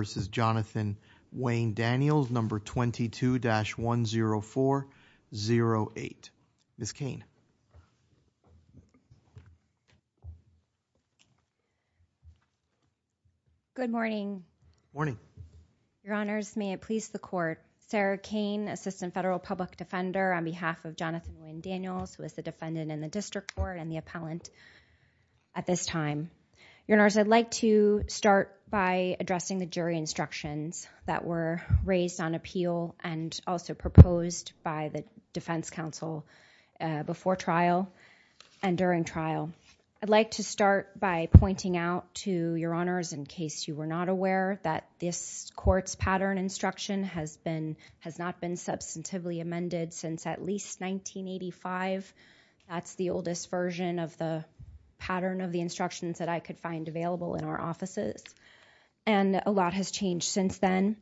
v. Jonathan Wayne Daniels, No. 22-10408. Ms. Cain. Good morning. Good morning. Your Honors, may it please the Court, Sarah Cain, Assistant Federal Public Defender on behalf of Jonathan Daniels, who is the defendant in the District Court and the appellant at this time. Your Honors, I'd like to start by addressing the jury instructions that were raised on appeal and also proposed by the Defense Counsel before trial and during trial. I'd like to start by pointing out to Your Honors, in case you were not aware, that this Court's pattern instruction has not been substantively amended since at least 1985. That's the oldest version of the pattern of the instructions that I could find available in our offices, and a lot has changed since then.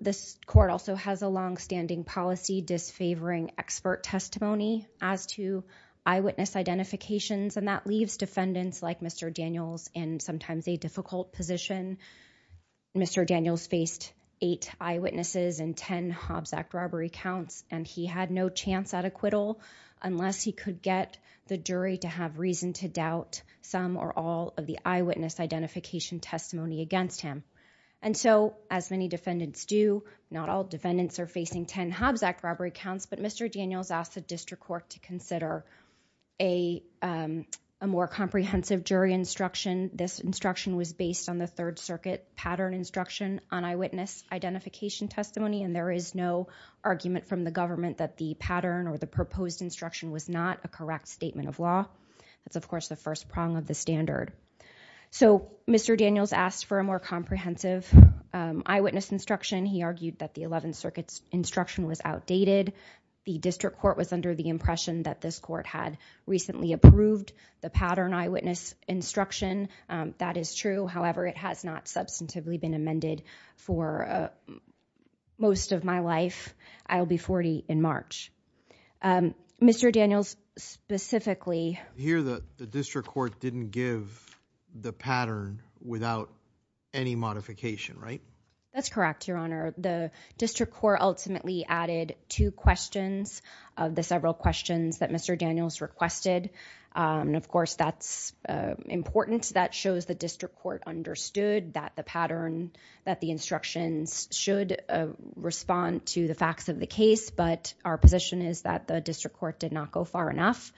This Court also has a longstanding policy disfavoring expert testimony as to eyewitness identifications, and that leaves defendants like Mr. Daniels in sometimes a difficult position. Mr. Daniels faced eight eyewitnesses and ten Hobbs Act robbery counts, and he had no chance at acquittal unless he could get the jury to have reason to doubt some or all of the eyewitness identification testimony against him. As many defendants do, not all defendants are facing ten Hobbs Act robbery counts, but Mr. Daniels asked the District Court to consider a more comprehensive jury instruction. This instruction was based on the Third Circuit pattern instruction on eyewitness identification testimony, and there is no argument from the government that the pattern or the proposed instruction was not a correct statement of law. That's, of course, the first prong of the standard. So Mr. Daniels asked for a more comprehensive eyewitness instruction. He argued that the Eleventh Circuit's instruction was outdated. The District Court was under the impression that this Court had recently approved the pattern eyewitness instruction. That is true. However, it has not substantively been amended for most of my life. I will be 40 in March. Mr. Daniels specifically... Here the District Court didn't give the pattern without any modification, right? That's correct, Your Honor. The District Court ultimately added two questions of the several questions that Mr. Daniels requested. Of course, that's important. That shows the District Court understood that the pattern, that the instructions should respond to the facts of the case, but our position is that the District Court did not go far enough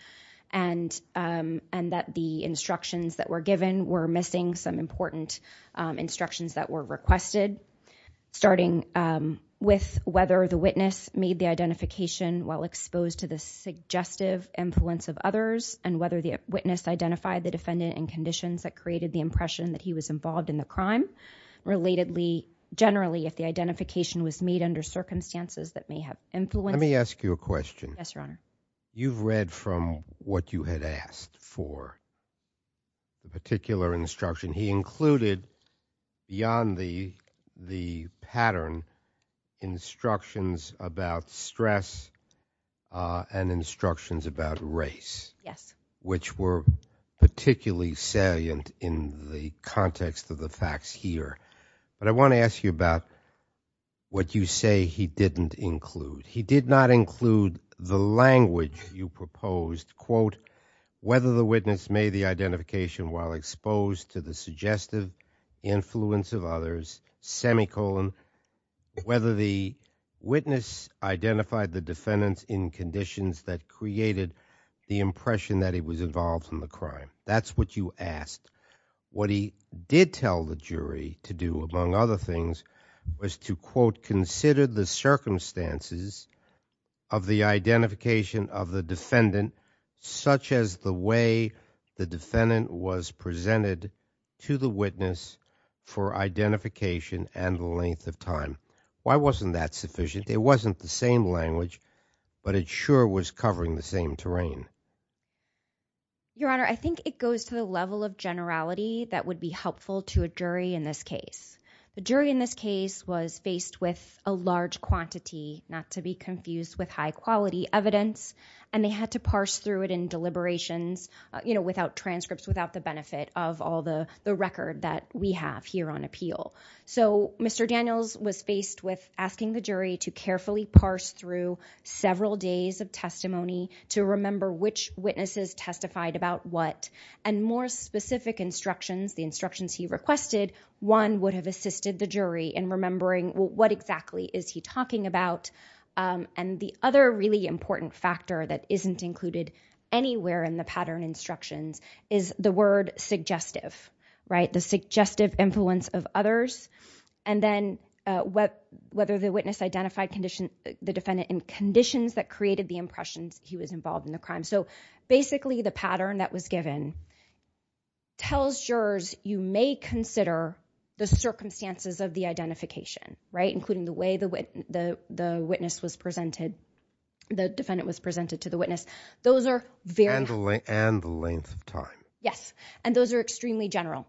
and that the instructions that were given were missing some important instructions that were requested, starting with whether the witness made the identification while exposed to the suggestive influence of others and whether the witness identified the defendant in conditions that created the possibility that he was involved in the crime. Relatedly, generally, if the identification was made under circumstances that may have influenced... Let me ask you a question. Yes, Your Honor. You've read from what you had asked for, the particular instruction. He included, beyond the pattern, instructions about stress and instructions about race, which were particularly salient in the context of the facts here, but I want to ask you about what you say he didn't include. He did not include the language you proposed, quote, whether the witness made the identification while exposed to the suggestive influence of others, semicolon, whether the witness identified the defendant in conditions that created the impression that he was involved in the crime. That's what you asked. What he did tell the jury to do, among other things, was to, quote, consider the circumstances of the identification of the defendant, such as the way the defendant was presented to the witness for identification and the length of time. Why wasn't that sufficient? It wasn't the same language, but it sure was covering the same terrain. Your Honor, I think it goes to the level of generality that would be helpful to a jury in this case. The jury in this case was faced with a large quantity, not to be confused with high-quality evidence, and they had to parse through it in deliberations, you know, without transcripts, without the benefit of all the record that we have here on appeal. So Mr. Daniels was faced with asking the jury to carefully parse through several days of testimony to remember which witnesses testified about what. And more specific instructions, the instructions he requested, one would have assisted the jury in remembering what exactly is he talking about. And the other really important factor that isn't included anywhere in the pattern instructions is the word suggestive, right, the suggestive influence of others. And then whether the witness identified the defendant in conditions that created the impression he was involved in the crime. So basically the pattern that was given tells jurors you may consider the circumstances of the identification, right, including the way the witness was presented, the defendant was presented to the witness. Those are very... And the length of time. Yes. And those are extremely general.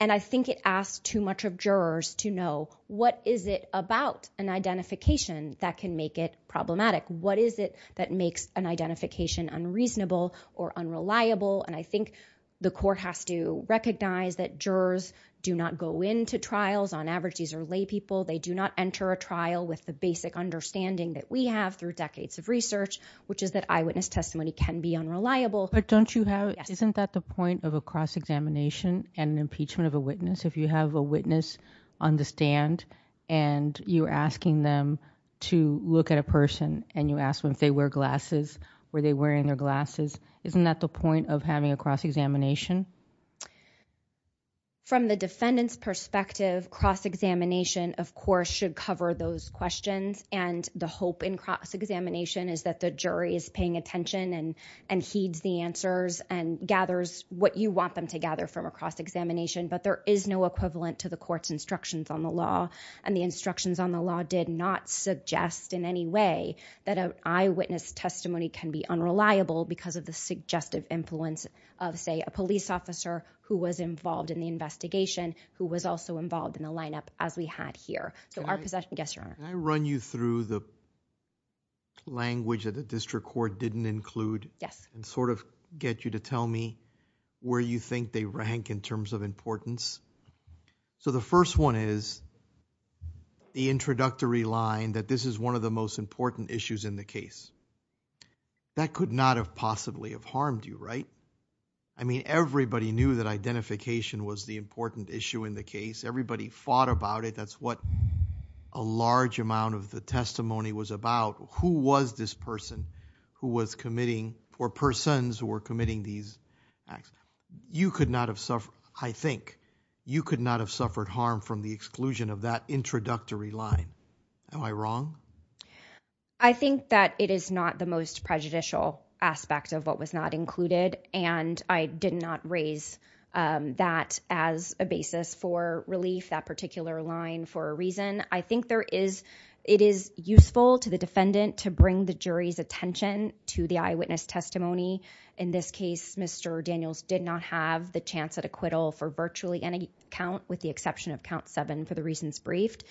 And I think it asks too much of jurors to know what is it about an identification that can make it problematic? What is it that makes an identification unreasonable or unreliable? And I think the court has to recognize that jurors do not go into trials, on average these are lay people, they do not enter a trial with the basic understanding that we have through decades of research, which is that eyewitness testimony can be unreliable. But don't you have, isn't that the point of a cross-examination and impeachment of a witness? If you have a witness on the stand and you're asking them to look at a person and you ask them if they wear glasses, were they wearing their glasses, isn't that the point of having a cross-examination? From the defendant's perspective, cross-examination of course should cover those questions and the hope in cross-examination is that the jury is paying attention and heeds the answers and gathers what you want them to gather from a cross-examination, but there is no equivalent to the court's instructions on the law. And the instructions on the law did not suggest in any way that an eyewitness testimony can be unreliable because of the suggestive influence of say a police officer who was involved in the investigation, who was also involved in the lineup as we had here. Can I run you through the language that the District Court didn't include and sort of get you to tell me where you think they rank in terms of importance? So the first one is the introductory line that this is one of the most important issues in the case. That could not have possibly have harmed you, right? I mean everybody knew that identification was the important issue in the case. Everybody fought about it. That's what a large amount of the testimony was about. Who was this person who was committing or persons who were committing these acts? You could not have suffered, I think, you could not have suffered harm from the exclusion of that introductory line. Am I wrong? I think that it is not the most prejudicial aspect of what was not included and I did not raise that as a basis for relief, that particular line for a reason. I think there is, it is useful to the defendant to bring the jury's attention to the eyewitness testimony. In this case, Mr. Daniels did not have the chance at acquittal for virtually any count with the exception of count seven for the reasons briefed.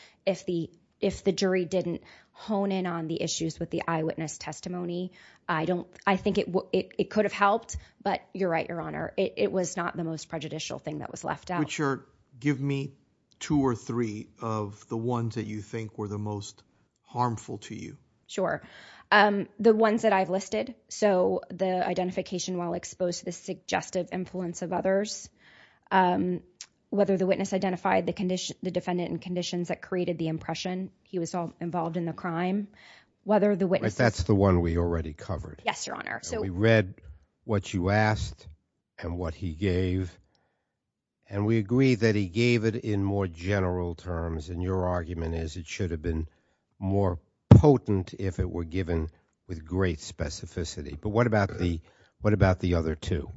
If the jury didn't hone in on the issues with the eyewitness testimony, I don't, I think it could have helped, but you're right, your honor, it was not the most prejudicial thing that was left out. Richard, give me two or three of the ones that you think were the most harmful to you. Sure. The ones that I've listed, so the identification while exposed to the suggestive influence of others, whether the witness identified the defendant in conditions that created the impression he was involved in the crime, whether the witness... and what he gave, and we agree that he gave it in more general terms, and your argument is it should have been more potent if it were given with great specificity. But what about the, what about the other two?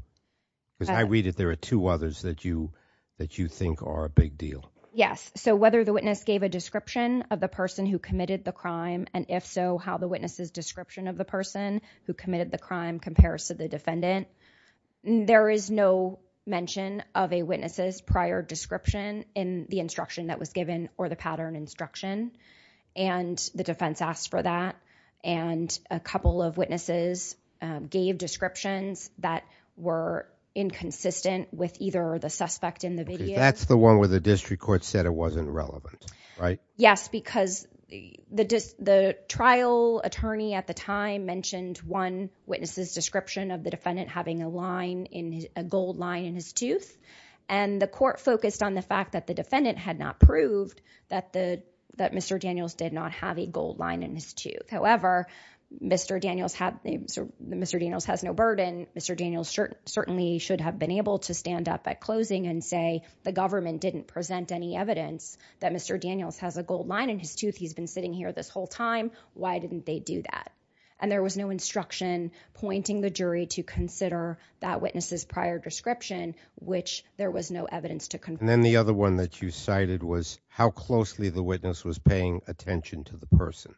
Because I read that there are two others that you, that you think are a big deal. Yes. So whether the witness gave a description of the person who committed the crime and if so, how the witness's description of the person who committed the crime compares to the defendant, there is no mention of a witness's prior description in the instruction that was given or the pattern instruction, and the defense asked for that, and a couple of witnesses gave descriptions that were inconsistent with either the suspect in the video. That's the one where the district court said it wasn't relevant, right? Yes, because the trial attorney at the time mentioned one witness's description of the defendant having a line, a gold line in his tooth, and the court focused on the fact that the defendant had not proved that Mr. Daniels did not have a gold line in his tooth. However, Mr. Daniels has no burden. Mr. Daniels certainly should have been able to stand up at closing and say the government didn't present any evidence that Mr. Daniels has a gold line in his tooth. He's been sitting here this whole time. Why didn't they do that? And there was no instruction pointing the jury to consider that witness's prior description, which there was no evidence to confirm. And then the other one that you cited was how closely the witness was paying attention to the person.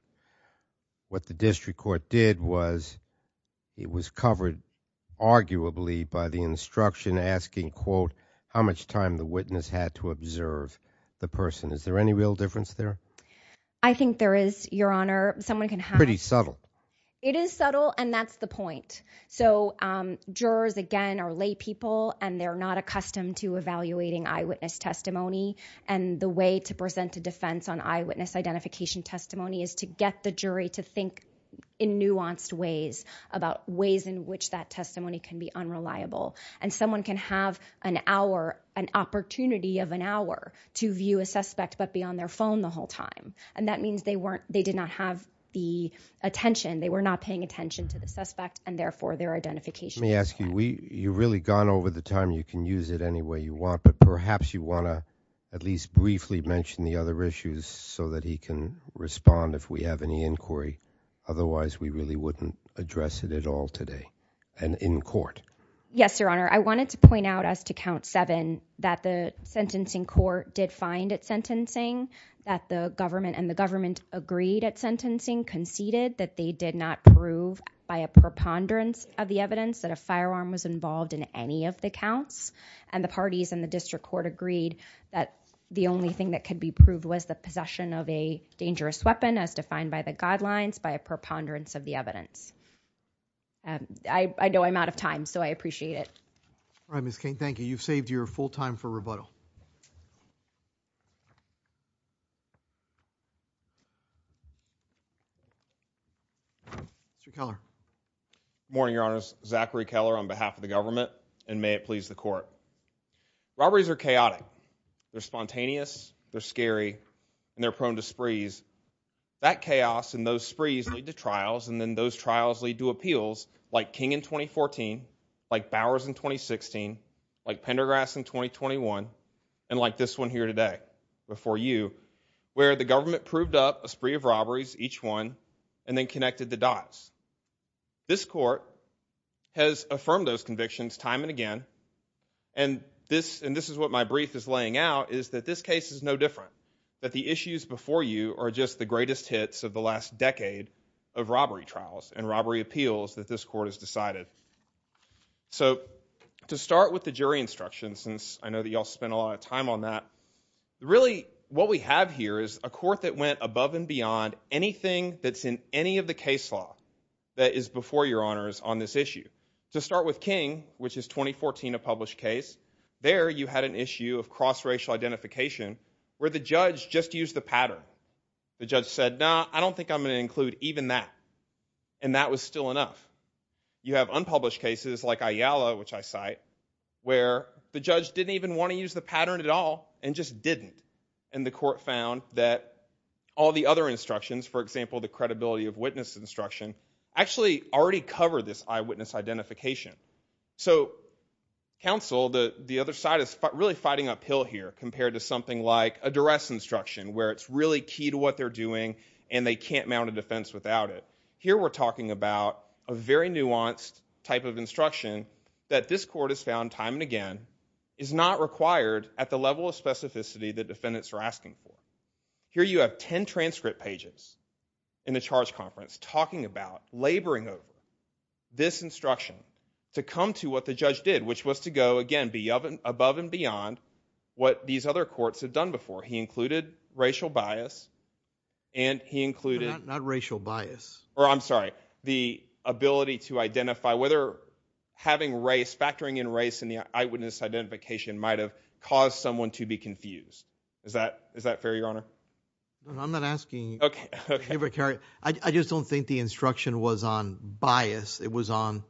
What the district court did was it was covered arguably by the instruction asking, quote, how much time the witness had to observe the person. Is there any real difference there? I think there is, Your Honor. Someone can have... Pretty subtle. It is subtle, and that's the point. So jurors, again, are laypeople, and they're not accustomed to evaluating eyewitness testimony. And the way to present a defense on eyewitness identification testimony is to get the jury to think in nuanced ways about ways in which that testimony can be unreliable. And someone can have an hour, an opportunity of an hour, to view a suspect but be on their phone the whole time. And that means they did not have the attention, they were not paying attention to the suspect, and therefore their identification... Let me ask you, you've really gone over the time. You can use it any way you want, but perhaps you want to at least briefly mention the other issues so that he can respond if we have any inquiry. Otherwise, we really wouldn't address it at all today and in court. Yes, Your Honor. I wanted to point out as to count seven that the sentencing court did find it sentencing, that the government and the government agreed at sentencing, conceded that they did not prove by a preponderance of the evidence that a firearm was involved in any of the counts. And the parties in the district court agreed that the only thing that could be proved was the possession of a dangerous weapon as defined by the guidelines by a preponderance of the evidence. I know I'm out of time, so I appreciate it. All right, Ms. Cain, thank you. You've saved your full time for rebuttal. Mr. Keller. Good morning, Your Honors. Zachary Keller on and they're prone to sprees. That chaos and those sprees lead to trials, and then those trials lead to appeals like King in 2014, like Bowers in 2016, like Pendergrass in 2021, and like this one here today before you, where the government proved up a spree of robberies, each one, and then connected the dots. This Court has affirmed those convictions time and again, and this is what my brief is laying out, is that this case is no different, that the issues before you are just the greatest hits of the last decade of robbery trials and robbery appeals that this Court has decided. So to start with the jury instructions, since I know that you all spent a lot of time on that, really what we have here is a Court that went above and beyond anything that's in any of the case law that is before your 2014 published case. There you had an issue of cross-racial identification where the judge just used the pattern. The judge said, nah, I don't think I'm going to include even that, and that was still enough. You have unpublished cases like Ayala, which I cite, where the judge didn't even want to use the pattern at all and just didn't, and the Court found that all the other instructions, for example, the credibility of witness instruction, actually already cover this eyewitness identification. So counsel, the other side is really fighting uphill here compared to something like a duress instruction where it's really key to what they're doing and they can't mount a defense without it. Here we're talking about a very nuanced type of instruction that this Court has found time and again is not required at the level of specificity that defendants are asking for. Here you have 10 transcript pages in the charge conference talking about, laboring over, this instruction to come to what the judge did, which was to go, again, above and beyond what these other courts have done before. He included racial bias and he included... Not racial bias. Or, I'm sorry, the ability to identify whether having race, factoring in race in the eyewitness identification might have caused someone to be confused. Is that fair, Your Honor? I'm not asking you to give or carry. I just don't think the instruction was on bias. It was on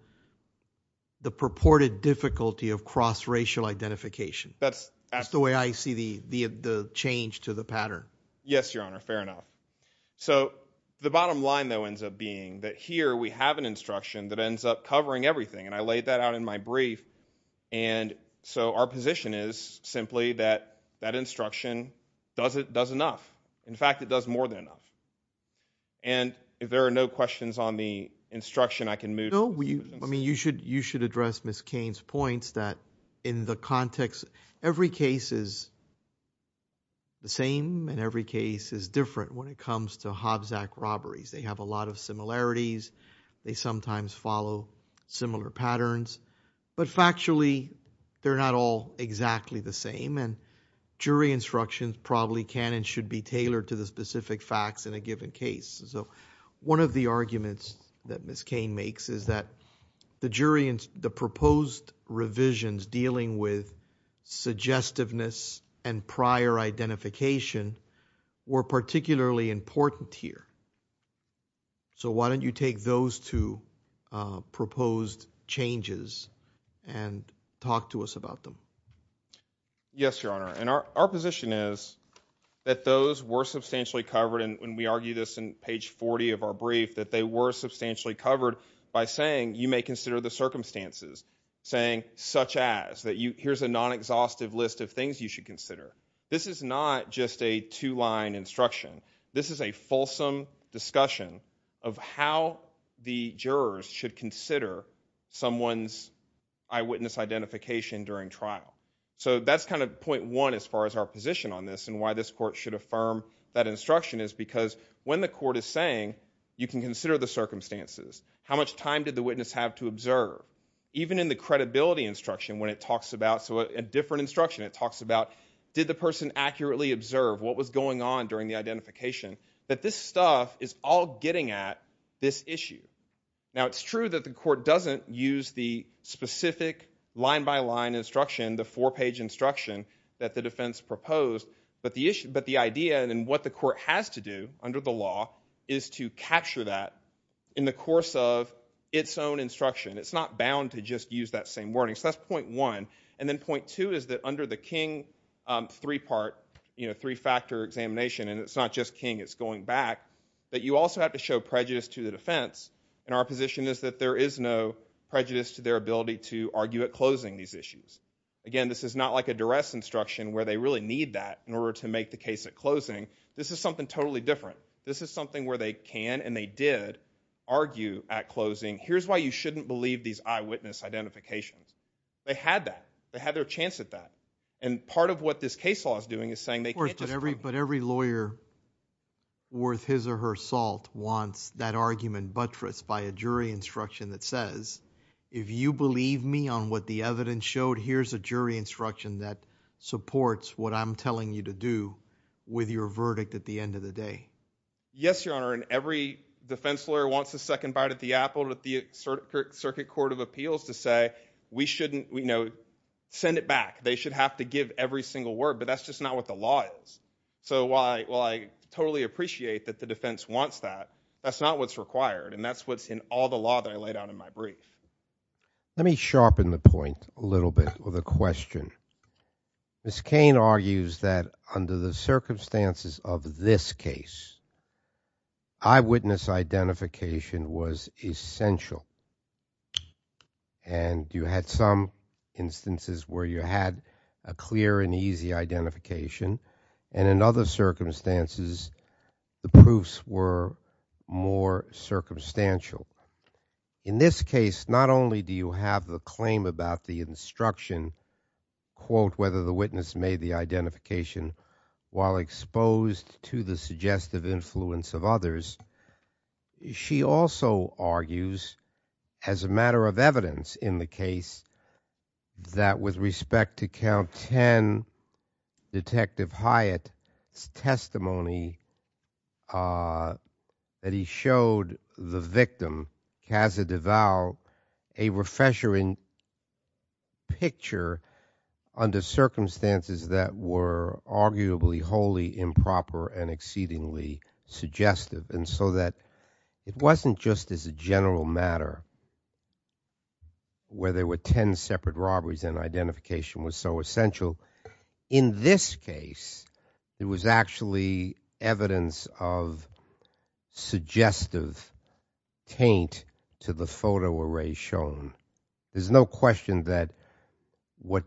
the purported difficulty of cross-racial identification. That's the way I see the change to the pattern. Yes, Your Honor. Fair enough. So the bottom line, though, ends up being that here we have an instruction that ends up covering everything and I laid that out in my brief and so our instruction does enough. In fact, it does more than enough. And if there are no questions on the instruction, I can move... No, you should address Ms. Cain's points that in the context, every case is the same and every case is different when it comes to Hobbs Act robberies. They have a lot of similarities. They sometimes follow similar patterns. But factually, they're not all exactly the same and jury instructions probably can and should be tailored to the specific facts in a given case. So one of the arguments that Ms. Cain makes is that the jury and the proposed revisions dealing with suggestiveness and prior identification were particularly important here. So why don't you take those two proposed changes and talk to us about them? Yes, Your Honor. And our position is that those were substantially covered and we argue this in page 40 of our brief, that they were substantially covered by saying you may consider the circumstances. Saying such as, here's a non-exhaustive list of things you should consider. This is not just a two-line instruction. This is a fulsome discussion of how the jurors should consider someone's eyewitness identification during trial. So that's kind of point one as far as our position on this and why this court should affirm that instruction is because when the court is saying you can consider the circumstances, how much time did the witness have to observe, even in the credibility instruction when it talks about, so a different instruction, it talks about did the person accurately observe what was going on during the identification, that this stuff is all getting at this issue. Now, it's true that the court doesn't use the specific line-by-line instruction, the four-page instruction that the defense proposed, but the idea and what the court has to do under the law is to capture that in the course of its own instruction. It's not bound to just use that same wording. So that's point one. And then point two is that under the King three-part, you know, three-factor examination and it's not just King, it's going back, that you also have to show prejudice to the defense and our position is that there is no prejudice to their ability to argue at closing these issues. Again, this is not like a duress instruction where they really need that in order to make the case at closing. This is something totally different. This is something where they can and they did argue at closing, here's why you shouldn't believe these eyewitness identifications. They had that. They had their chance at that. And part of what this case law is doing is every lawyer worth his or her salt wants that argument buttressed by a jury instruction that says, if you believe me on what the evidence showed, here's a jury instruction that supports what I'm telling you to do with your verdict at the end of the day. Yes, Your Honor. And every defense lawyer wants a second bite at the apple at the circuit court of appeals to say, we shouldn't, you know, send it back. They should have to give every single word, but that's just not what the law is. So while I totally appreciate that the defense wants that, that's not what's required and that's what's in all the law that I laid out in my brief. Let me sharpen the point a little bit with a question. Ms. Cain argues that under the circumstances of this case, eyewitness identification was essential and you had some instances where you had a clear and easy identification. And in other circumstances, the proofs were more circumstantial. In this case, not only do you have the claim about the instruction quote, whether the witness made the identification while exposed to the suggestive influence of others, she also argues as a matter of evidence in the case that with respect to count 10, Detective Hyatt's testimony, uh, that he showed the victim, Kazza DeVal, a refreshing picture under circumstances that were arguably wholly improper and exceedingly suggestive. And so that it wasn't just as a general matter where there were 10 separate robberies and identification was so essential. In this case, it was actually evidence of suggestive taint to the photo array shown. There's no question that what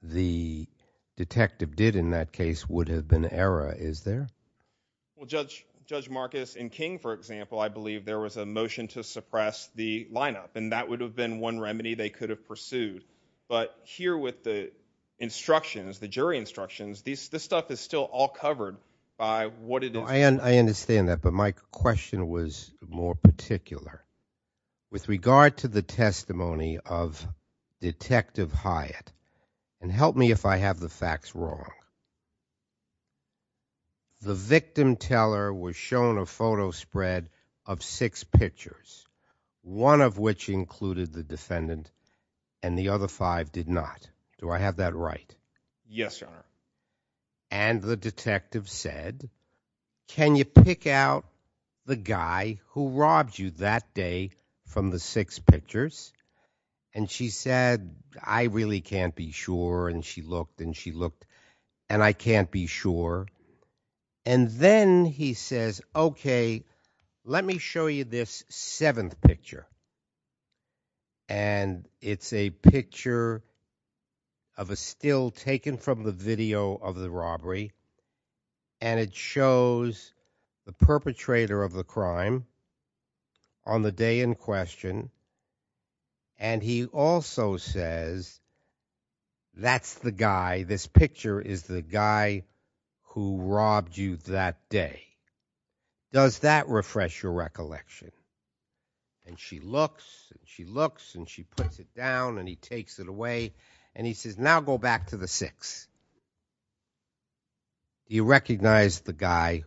the detective did in that case would have been error, is there? Well, Judge Marcus and King, for example, I believe there was a motion to suppress the lineup and that would have been one remedy they could have pursued. But here with the instructions, the jury instructions, this stuff is still all covered by what it is. I understand that, but my question was more particular. With regard to the testimony of Detective Hyatt, and help me if I have the facts wrong, the victim teller was shown a photo spread of six pictures, one of which included the defendant and the other five did not. Do I have that right? Yes, Your Honor. And the detective said, can you pick out the guy who robbed you that day from the six pictures? And she said, I really can't be sure. And she looked and she looked and I can't be sure. And then he says, okay, let me show you this seventh picture. And it's a picture of a still taken from the video of the robbery. And it shows the perpetrator of the crime on the day in question. And he also says, that's the guy, this picture is the guy who robbed you that day. Does that refresh your recollection? And she looks and she looks and she puts it down and he takes it away and he says, now go back to the six. You recognize the guy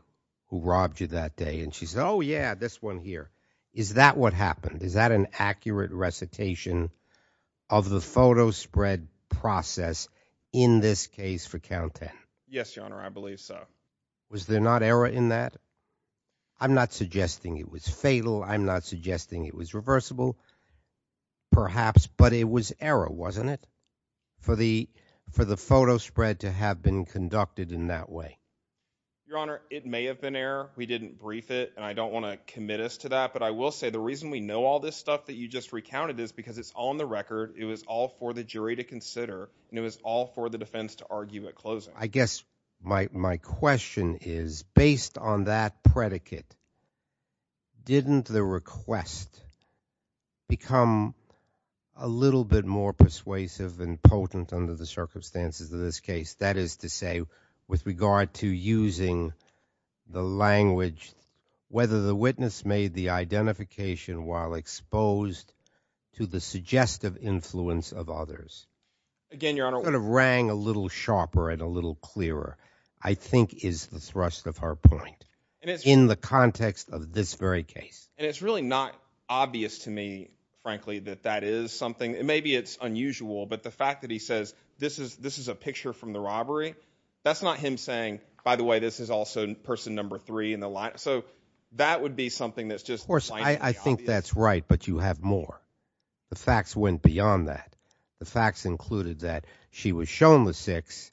who robbed you that day? And she said, oh yeah, this one here. Is that what happened? Is that an accurate recitation of the photo spread process in this case for count 10? Yes, Your Honor. I believe so. Was there not error in that? I'm not suggesting it was fatal. I'm not suggesting it was reversible, perhaps, but it was error, wasn't it? For the, for the photo spread to have been conducted in that way. Your Honor, it may have been error. We didn't brief it and I don't want to commit us to that, but I will say the reason we know all this stuff that you just recounted is because it's on the record. It was all for the jury to consider and it was all for the defense to argue at closing. I guess my question is, based on that predicate, didn't the request become a little bit more persuasive and potent under the circumstances of this case? That is to say, with regard to using the language, whether the witness made the identification while exposed to the suggestive influence of others. Again, Your Honor. It sort of rang a little sharper and a little clearer, I think is the thrust of her point, in the context of this very case. And it's really not obvious to me, frankly, that that is something, and maybe it's unusual, but the fact that he says this is a picture from the robbery, that's not him saying, by the way, this is also person number three in the line. So that would be something that's just not obvious. Of course, I think that's right, but you have more. The facts went beyond that. The facts included that she was shown the six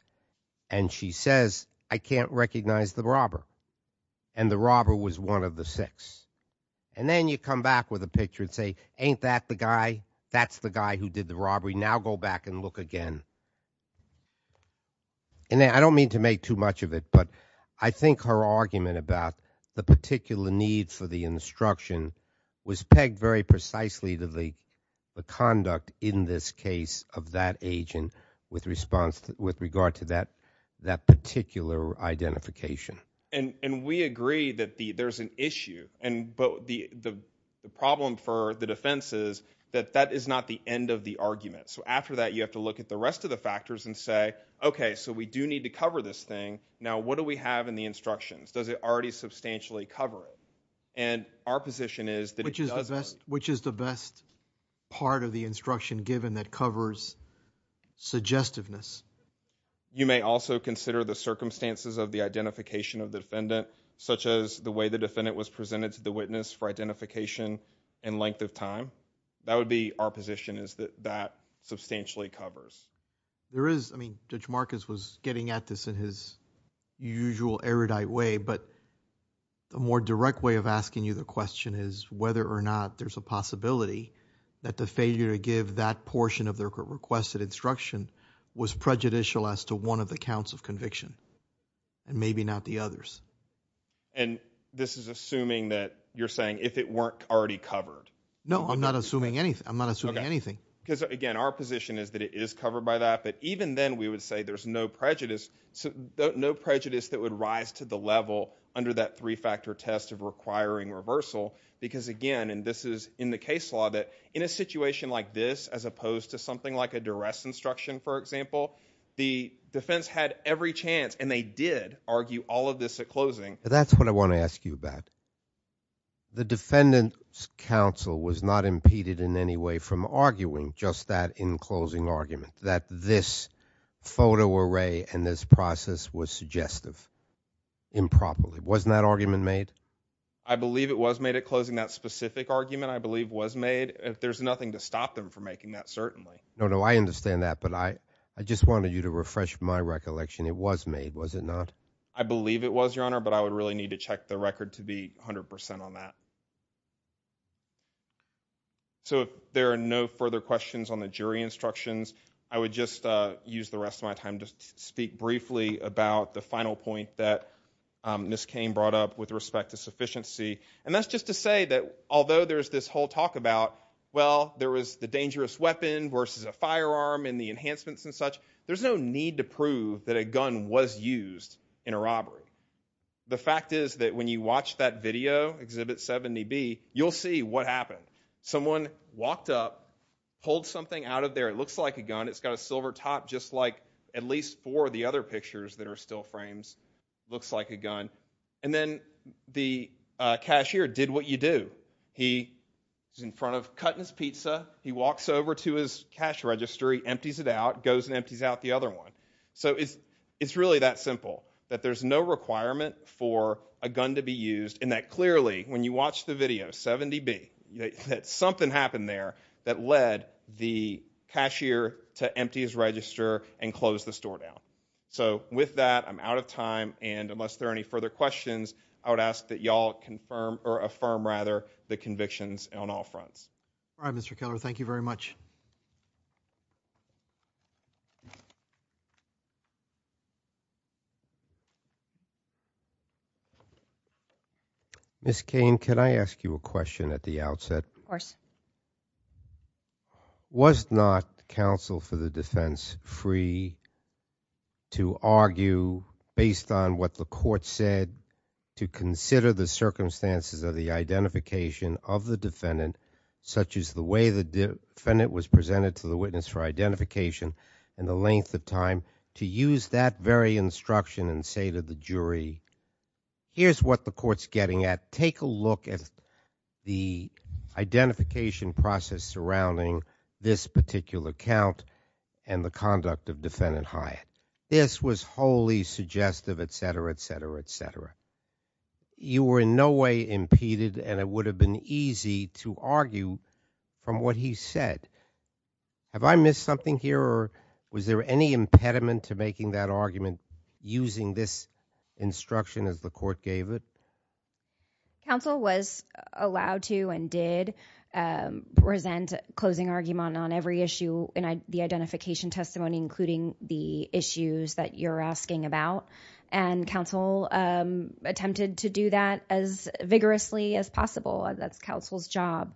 and she says, I can't recognize the robber. And the robber was one of the six. And then you come back with a picture and say, ain't that the guy? That's the guy who did the robbery. Now go back and look again. And I don't mean to make too much of it, but I think her argument about the particular need for the instruction was pegged very precisely to the conduct in this case of that agent with regard to that particular identification. And we agree that there's an issue, but the problem for the defense is that that is not the end of the argument. So after that, you have to look at the rest of the factors and say, okay, so we do need to cover this thing. Now, what do we have in the instructions? Does it already substantially cover it? And our position is that it doesn't. Which is the best part of the instruction given that covers suggestiveness? You may also consider the circumstances of the identification of the defendant, such as the way the defendant was presented to the witness for identification and length of time. That would be our position is that that substantially covers. There is, I mean, Judge Marcus was getting at this in his usual erudite way, but the more direct way of asking you the question is whether or not there's a possibility that the failure to give that portion of the requested instruction was prejudicial as to one of the counts of conviction and maybe not the others. And this is assuming that you're saying if it weren't already covered. No, I'm not assuming anything. I'm not assuming anything. Because again, our position is that it is covered by that, but even then we would say there's no prejudice, no prejudice that would rise to the level under that three-factor test of requiring reversal. Because again, and this is in the case law, that in a situation like this, as opposed to something like a duress instruction, for example, the defense had every chance and they did argue all of this at closing. That's what I want to ask you about. The defendant's counsel was not impeded in any way from arguing just that in closing argument, that this photo array and this process was suggestive improperly. Wasn't that argument made? I believe it was made at closing. That specific argument, I believe, was made. There's nothing to stop them from making that, certainly. No, no, I understand that, but I just wanted you to refresh my recollection. It was made, was it not? I believe it was, Your Honor, but I would really need to check the record to be 100% on that. So if there are no further questions on the jury instructions, I would just use the rest of my time to speak briefly about the final point that Ms. Cain brought up with respect to sufficiency. And that's just to say that although there's this whole talk about, well, there was the dangerous weapon versus a firearm and the enhancements and such, there's no need to prove that a gun was used in a robbery. The fact is that when you watch that video, Exhibit 70B, you'll see what happened. Someone walked up, pulled something out of there. It looks like a gun. It's got a silver top just like at least four of the other pictures that are still frames. Looks like a gun. And then the cashier did what you do. He was in a pizza. He walks over to his cash register. He empties it out, goes and empties out the other one. So it's really that simple, that there's no requirement for a gun to be used and that clearly, when you watch the video, 70B, that something happened there that led the cashier to empty his register and close the store down. So with that, I'm out of time. And unless there are any further questions, I would ask that y'all affirm the convictions on all fronts. All right, Mr. Keller. Thank you very much. Ms. Cain, can I ask you a question at the outset? Of course. Was not counsel for the defense free to argue based on what the court said to consider the evidence, such as the way the defendant was presented to the witness for identification and the length of time, to use that very instruction and say to the jury, here's what the court's getting at. Take a look at the identification process surrounding this particular count and the conduct of Defendant Hyatt. This was wholly suggestive, et cetera, et cetera, et cetera, from what he said. Have I missed something here or was there any impediment to making that argument using this instruction as the court gave it? Counsel was allowed to and did present a closing argument on every issue in the identification testimony, including the issues that you're asking about. And counsel attempted to do that as vigorously as possible. That's counsel's job.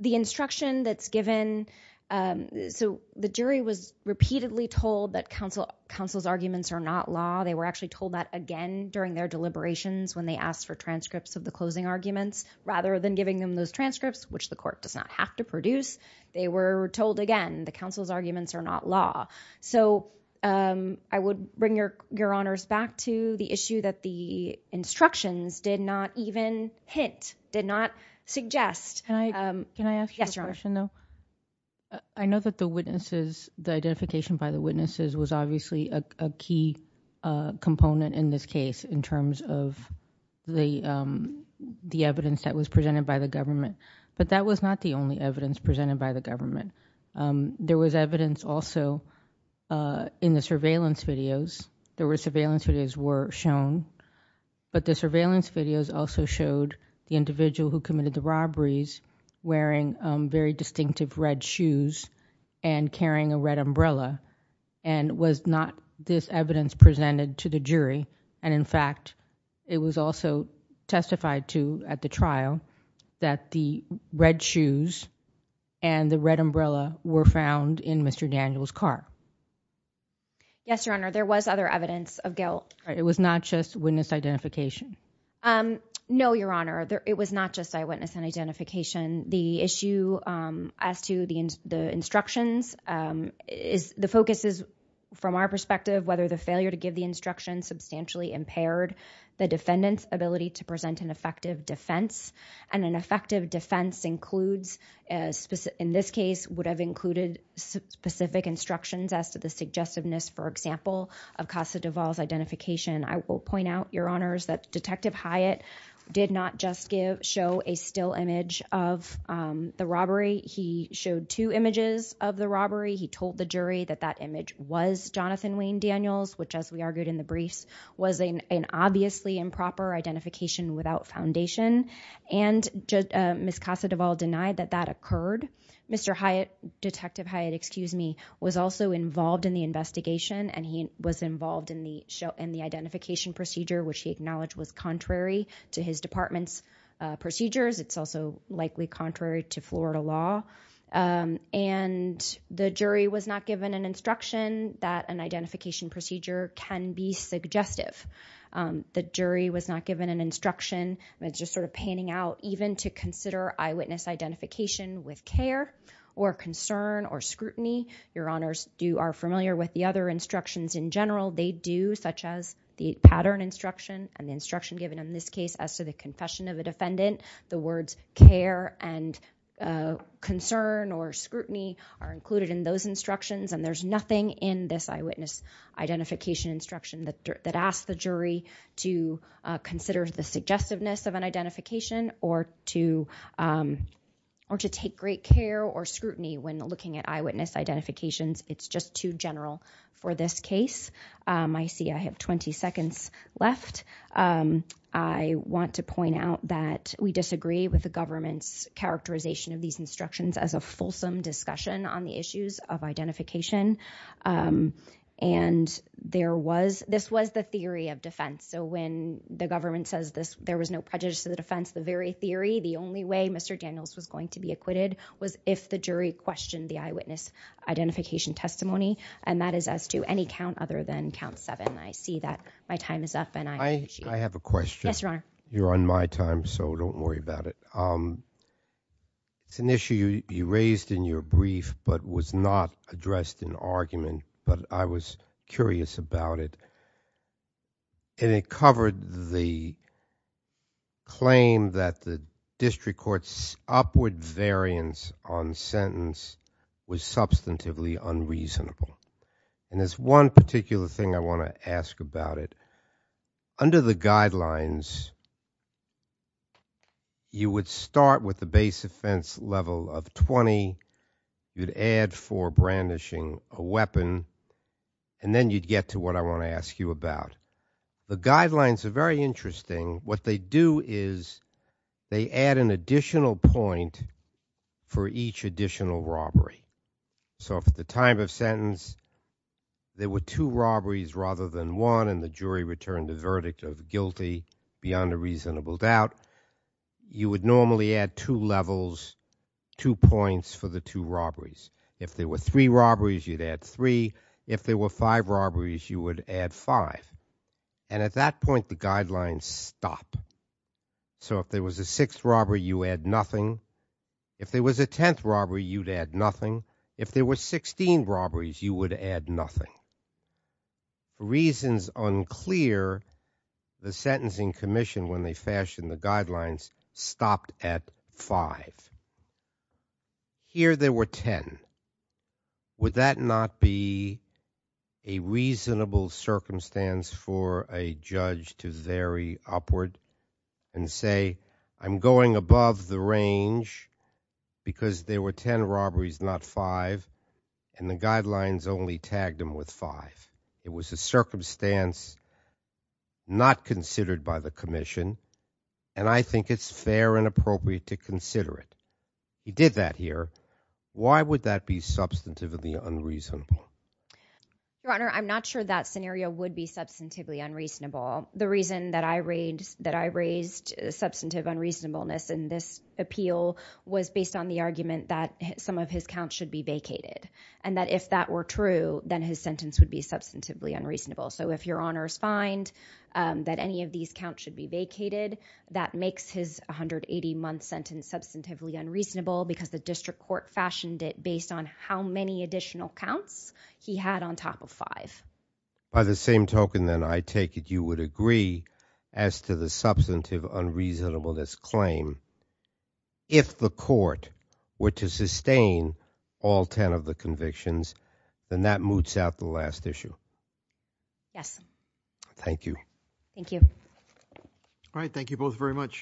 The instruction that's given, so the jury was repeatedly told that counsel's arguments are not law. They were actually told that again during their deliberations when they asked for transcripts of the closing arguments. Rather than giving them those transcripts, which the court does not have to produce, they were told again that counsel's arguments are not law. So I would bring your honors back to the issue that the instructions did not even hint, did not suggest. Can I ask you a question though? I know that the witnesses, the identification by the witnesses was obviously a key component in this case in terms of the evidence that was presented by the government. But that was not the only evidence presented by the government. There was evidence also in the surveillance videos. There were surveillance videos were shown. But the surveillance videos also showed the individual who committed the robberies wearing very distinctive red shoes and carrying a red umbrella. And was not this evidence presented to the jury. And in fact, it was also testified to at the trial that the red shoes and the red umbrella were found in Mr. Daniel's car. Yes, your honor. There was other evidence of guilt. It was not just witness identification? No, your honor. It was not just eyewitness and identification. The issue as to the instructions is the focus is from our perspective, whether the failure to give the instruction substantially impaired the defendant's ability to present an effective defense. And an effective defense includes in this case would have included specific instructions as to the suggestiveness, for example, of Casa Duvall's identification. I will point out, your honors, that Detective Hyatt did not just show a still image of the robbery. He showed two images of the robbery. He told the jury that that image was Jonathan Wayne Daniels, which as we argued in the briefs, was an obviously improper identification without foundation. And Ms. Casa Duvall denied that that occurred. Mr. Hyatt, Detective Hyatt, excuse me, was also involved in the investigation and he was involved in the identification procedure, which he acknowledged was contrary to his department's procedures. It's also likely contrary to Florida law. And the jury was not given an instruction that an identification procedure can be suggestive. The jury was not given an instruction, and it's just sort of panning out, even to consider eyewitness identification with care or concern or scrutiny. Your honors are familiar with the other instructions in general. They do, such as the pattern instruction and the instruction given in this case as to the confession of a defendant. The words care and concern or scrutiny are included in those instructions and there's nothing in this eyewitness identification instruction that asks the jury to consider the suggestiveness of an identification or to take great care or scrutiny when looking at eyewitness identifications. It's just too general for this case. I see I have 20 seconds left. I want to point out that we disagree with the government's characterization of these instructions as a fulsome discussion on the issues of identification. And there was this was the theory of defense. So when the government says this, there was no prejudice to the defense, the very theory, the only way Mr. Daniels was going to be acquitted was if the jury questioned the eyewitness identification testimony. And that is as to any count other than count seven. I see that my time is up and I have a question. You're on my time, so don't worry about it. It's an issue you raised in your brief but was not addressed in argument, but I was curious about it. And it covered the claim that the district court's upward variance on sentence was substantively unreasonable. And there's one particular thing I want to ask about it. Under the guidelines, you would start with the base offense level of 20, you'd add for brandishing a weapon, and then you'd get to what I want to ask you about. The guidelines are very interesting. What they do is they add an additional point for each additional robbery. So if at the time of sentence there were two robberies rather than one and the jury returned the verdict of guilty beyond a reasonable doubt, you would normally add two levels, two points for the two robberies. If there were three robberies, you'd add three. If there were five robberies, you would add five. And at that point, the guidelines stop. So if there was a sixth robbery, you add nothing. If there was a tenth robbery, you'd add nothing. If there were 16 robberies, you would add nothing. Reasons unclear, the Sentencing Commission, when they fashioned the guidelines, stopped at five. Here there were ten. Would that not be a reasonable circumstance for a judge to vary upward and say, I'm going above the range because there were ten robberies, not five, and the guidelines only tagged them with five? It was a circumstance not considered by the Commission, and I think it's fair and appropriate to consider it. He did that here. Why would that be substantively unreasonable? Your Honor, I'm not sure that scenario would be substantively unreasonable. The reason that I raised substantive unreasonableness in this appeal was based on the argument that some of his counts should be vacated and that if that were true, then his sentence would be substantively unreasonable. So if Your Honor, some of his counts should be vacated, that makes his 180-month sentence substantively unreasonable because the district court fashioned it based on how many additional counts he had on top of five. By the same token, then, I take it you would agree as to the substantive unreasonableness claim, if the court were to sustain all ten of the convictions, then that moots out the last issue? Yes. Thank you. Thank you. All right, thank you both very much.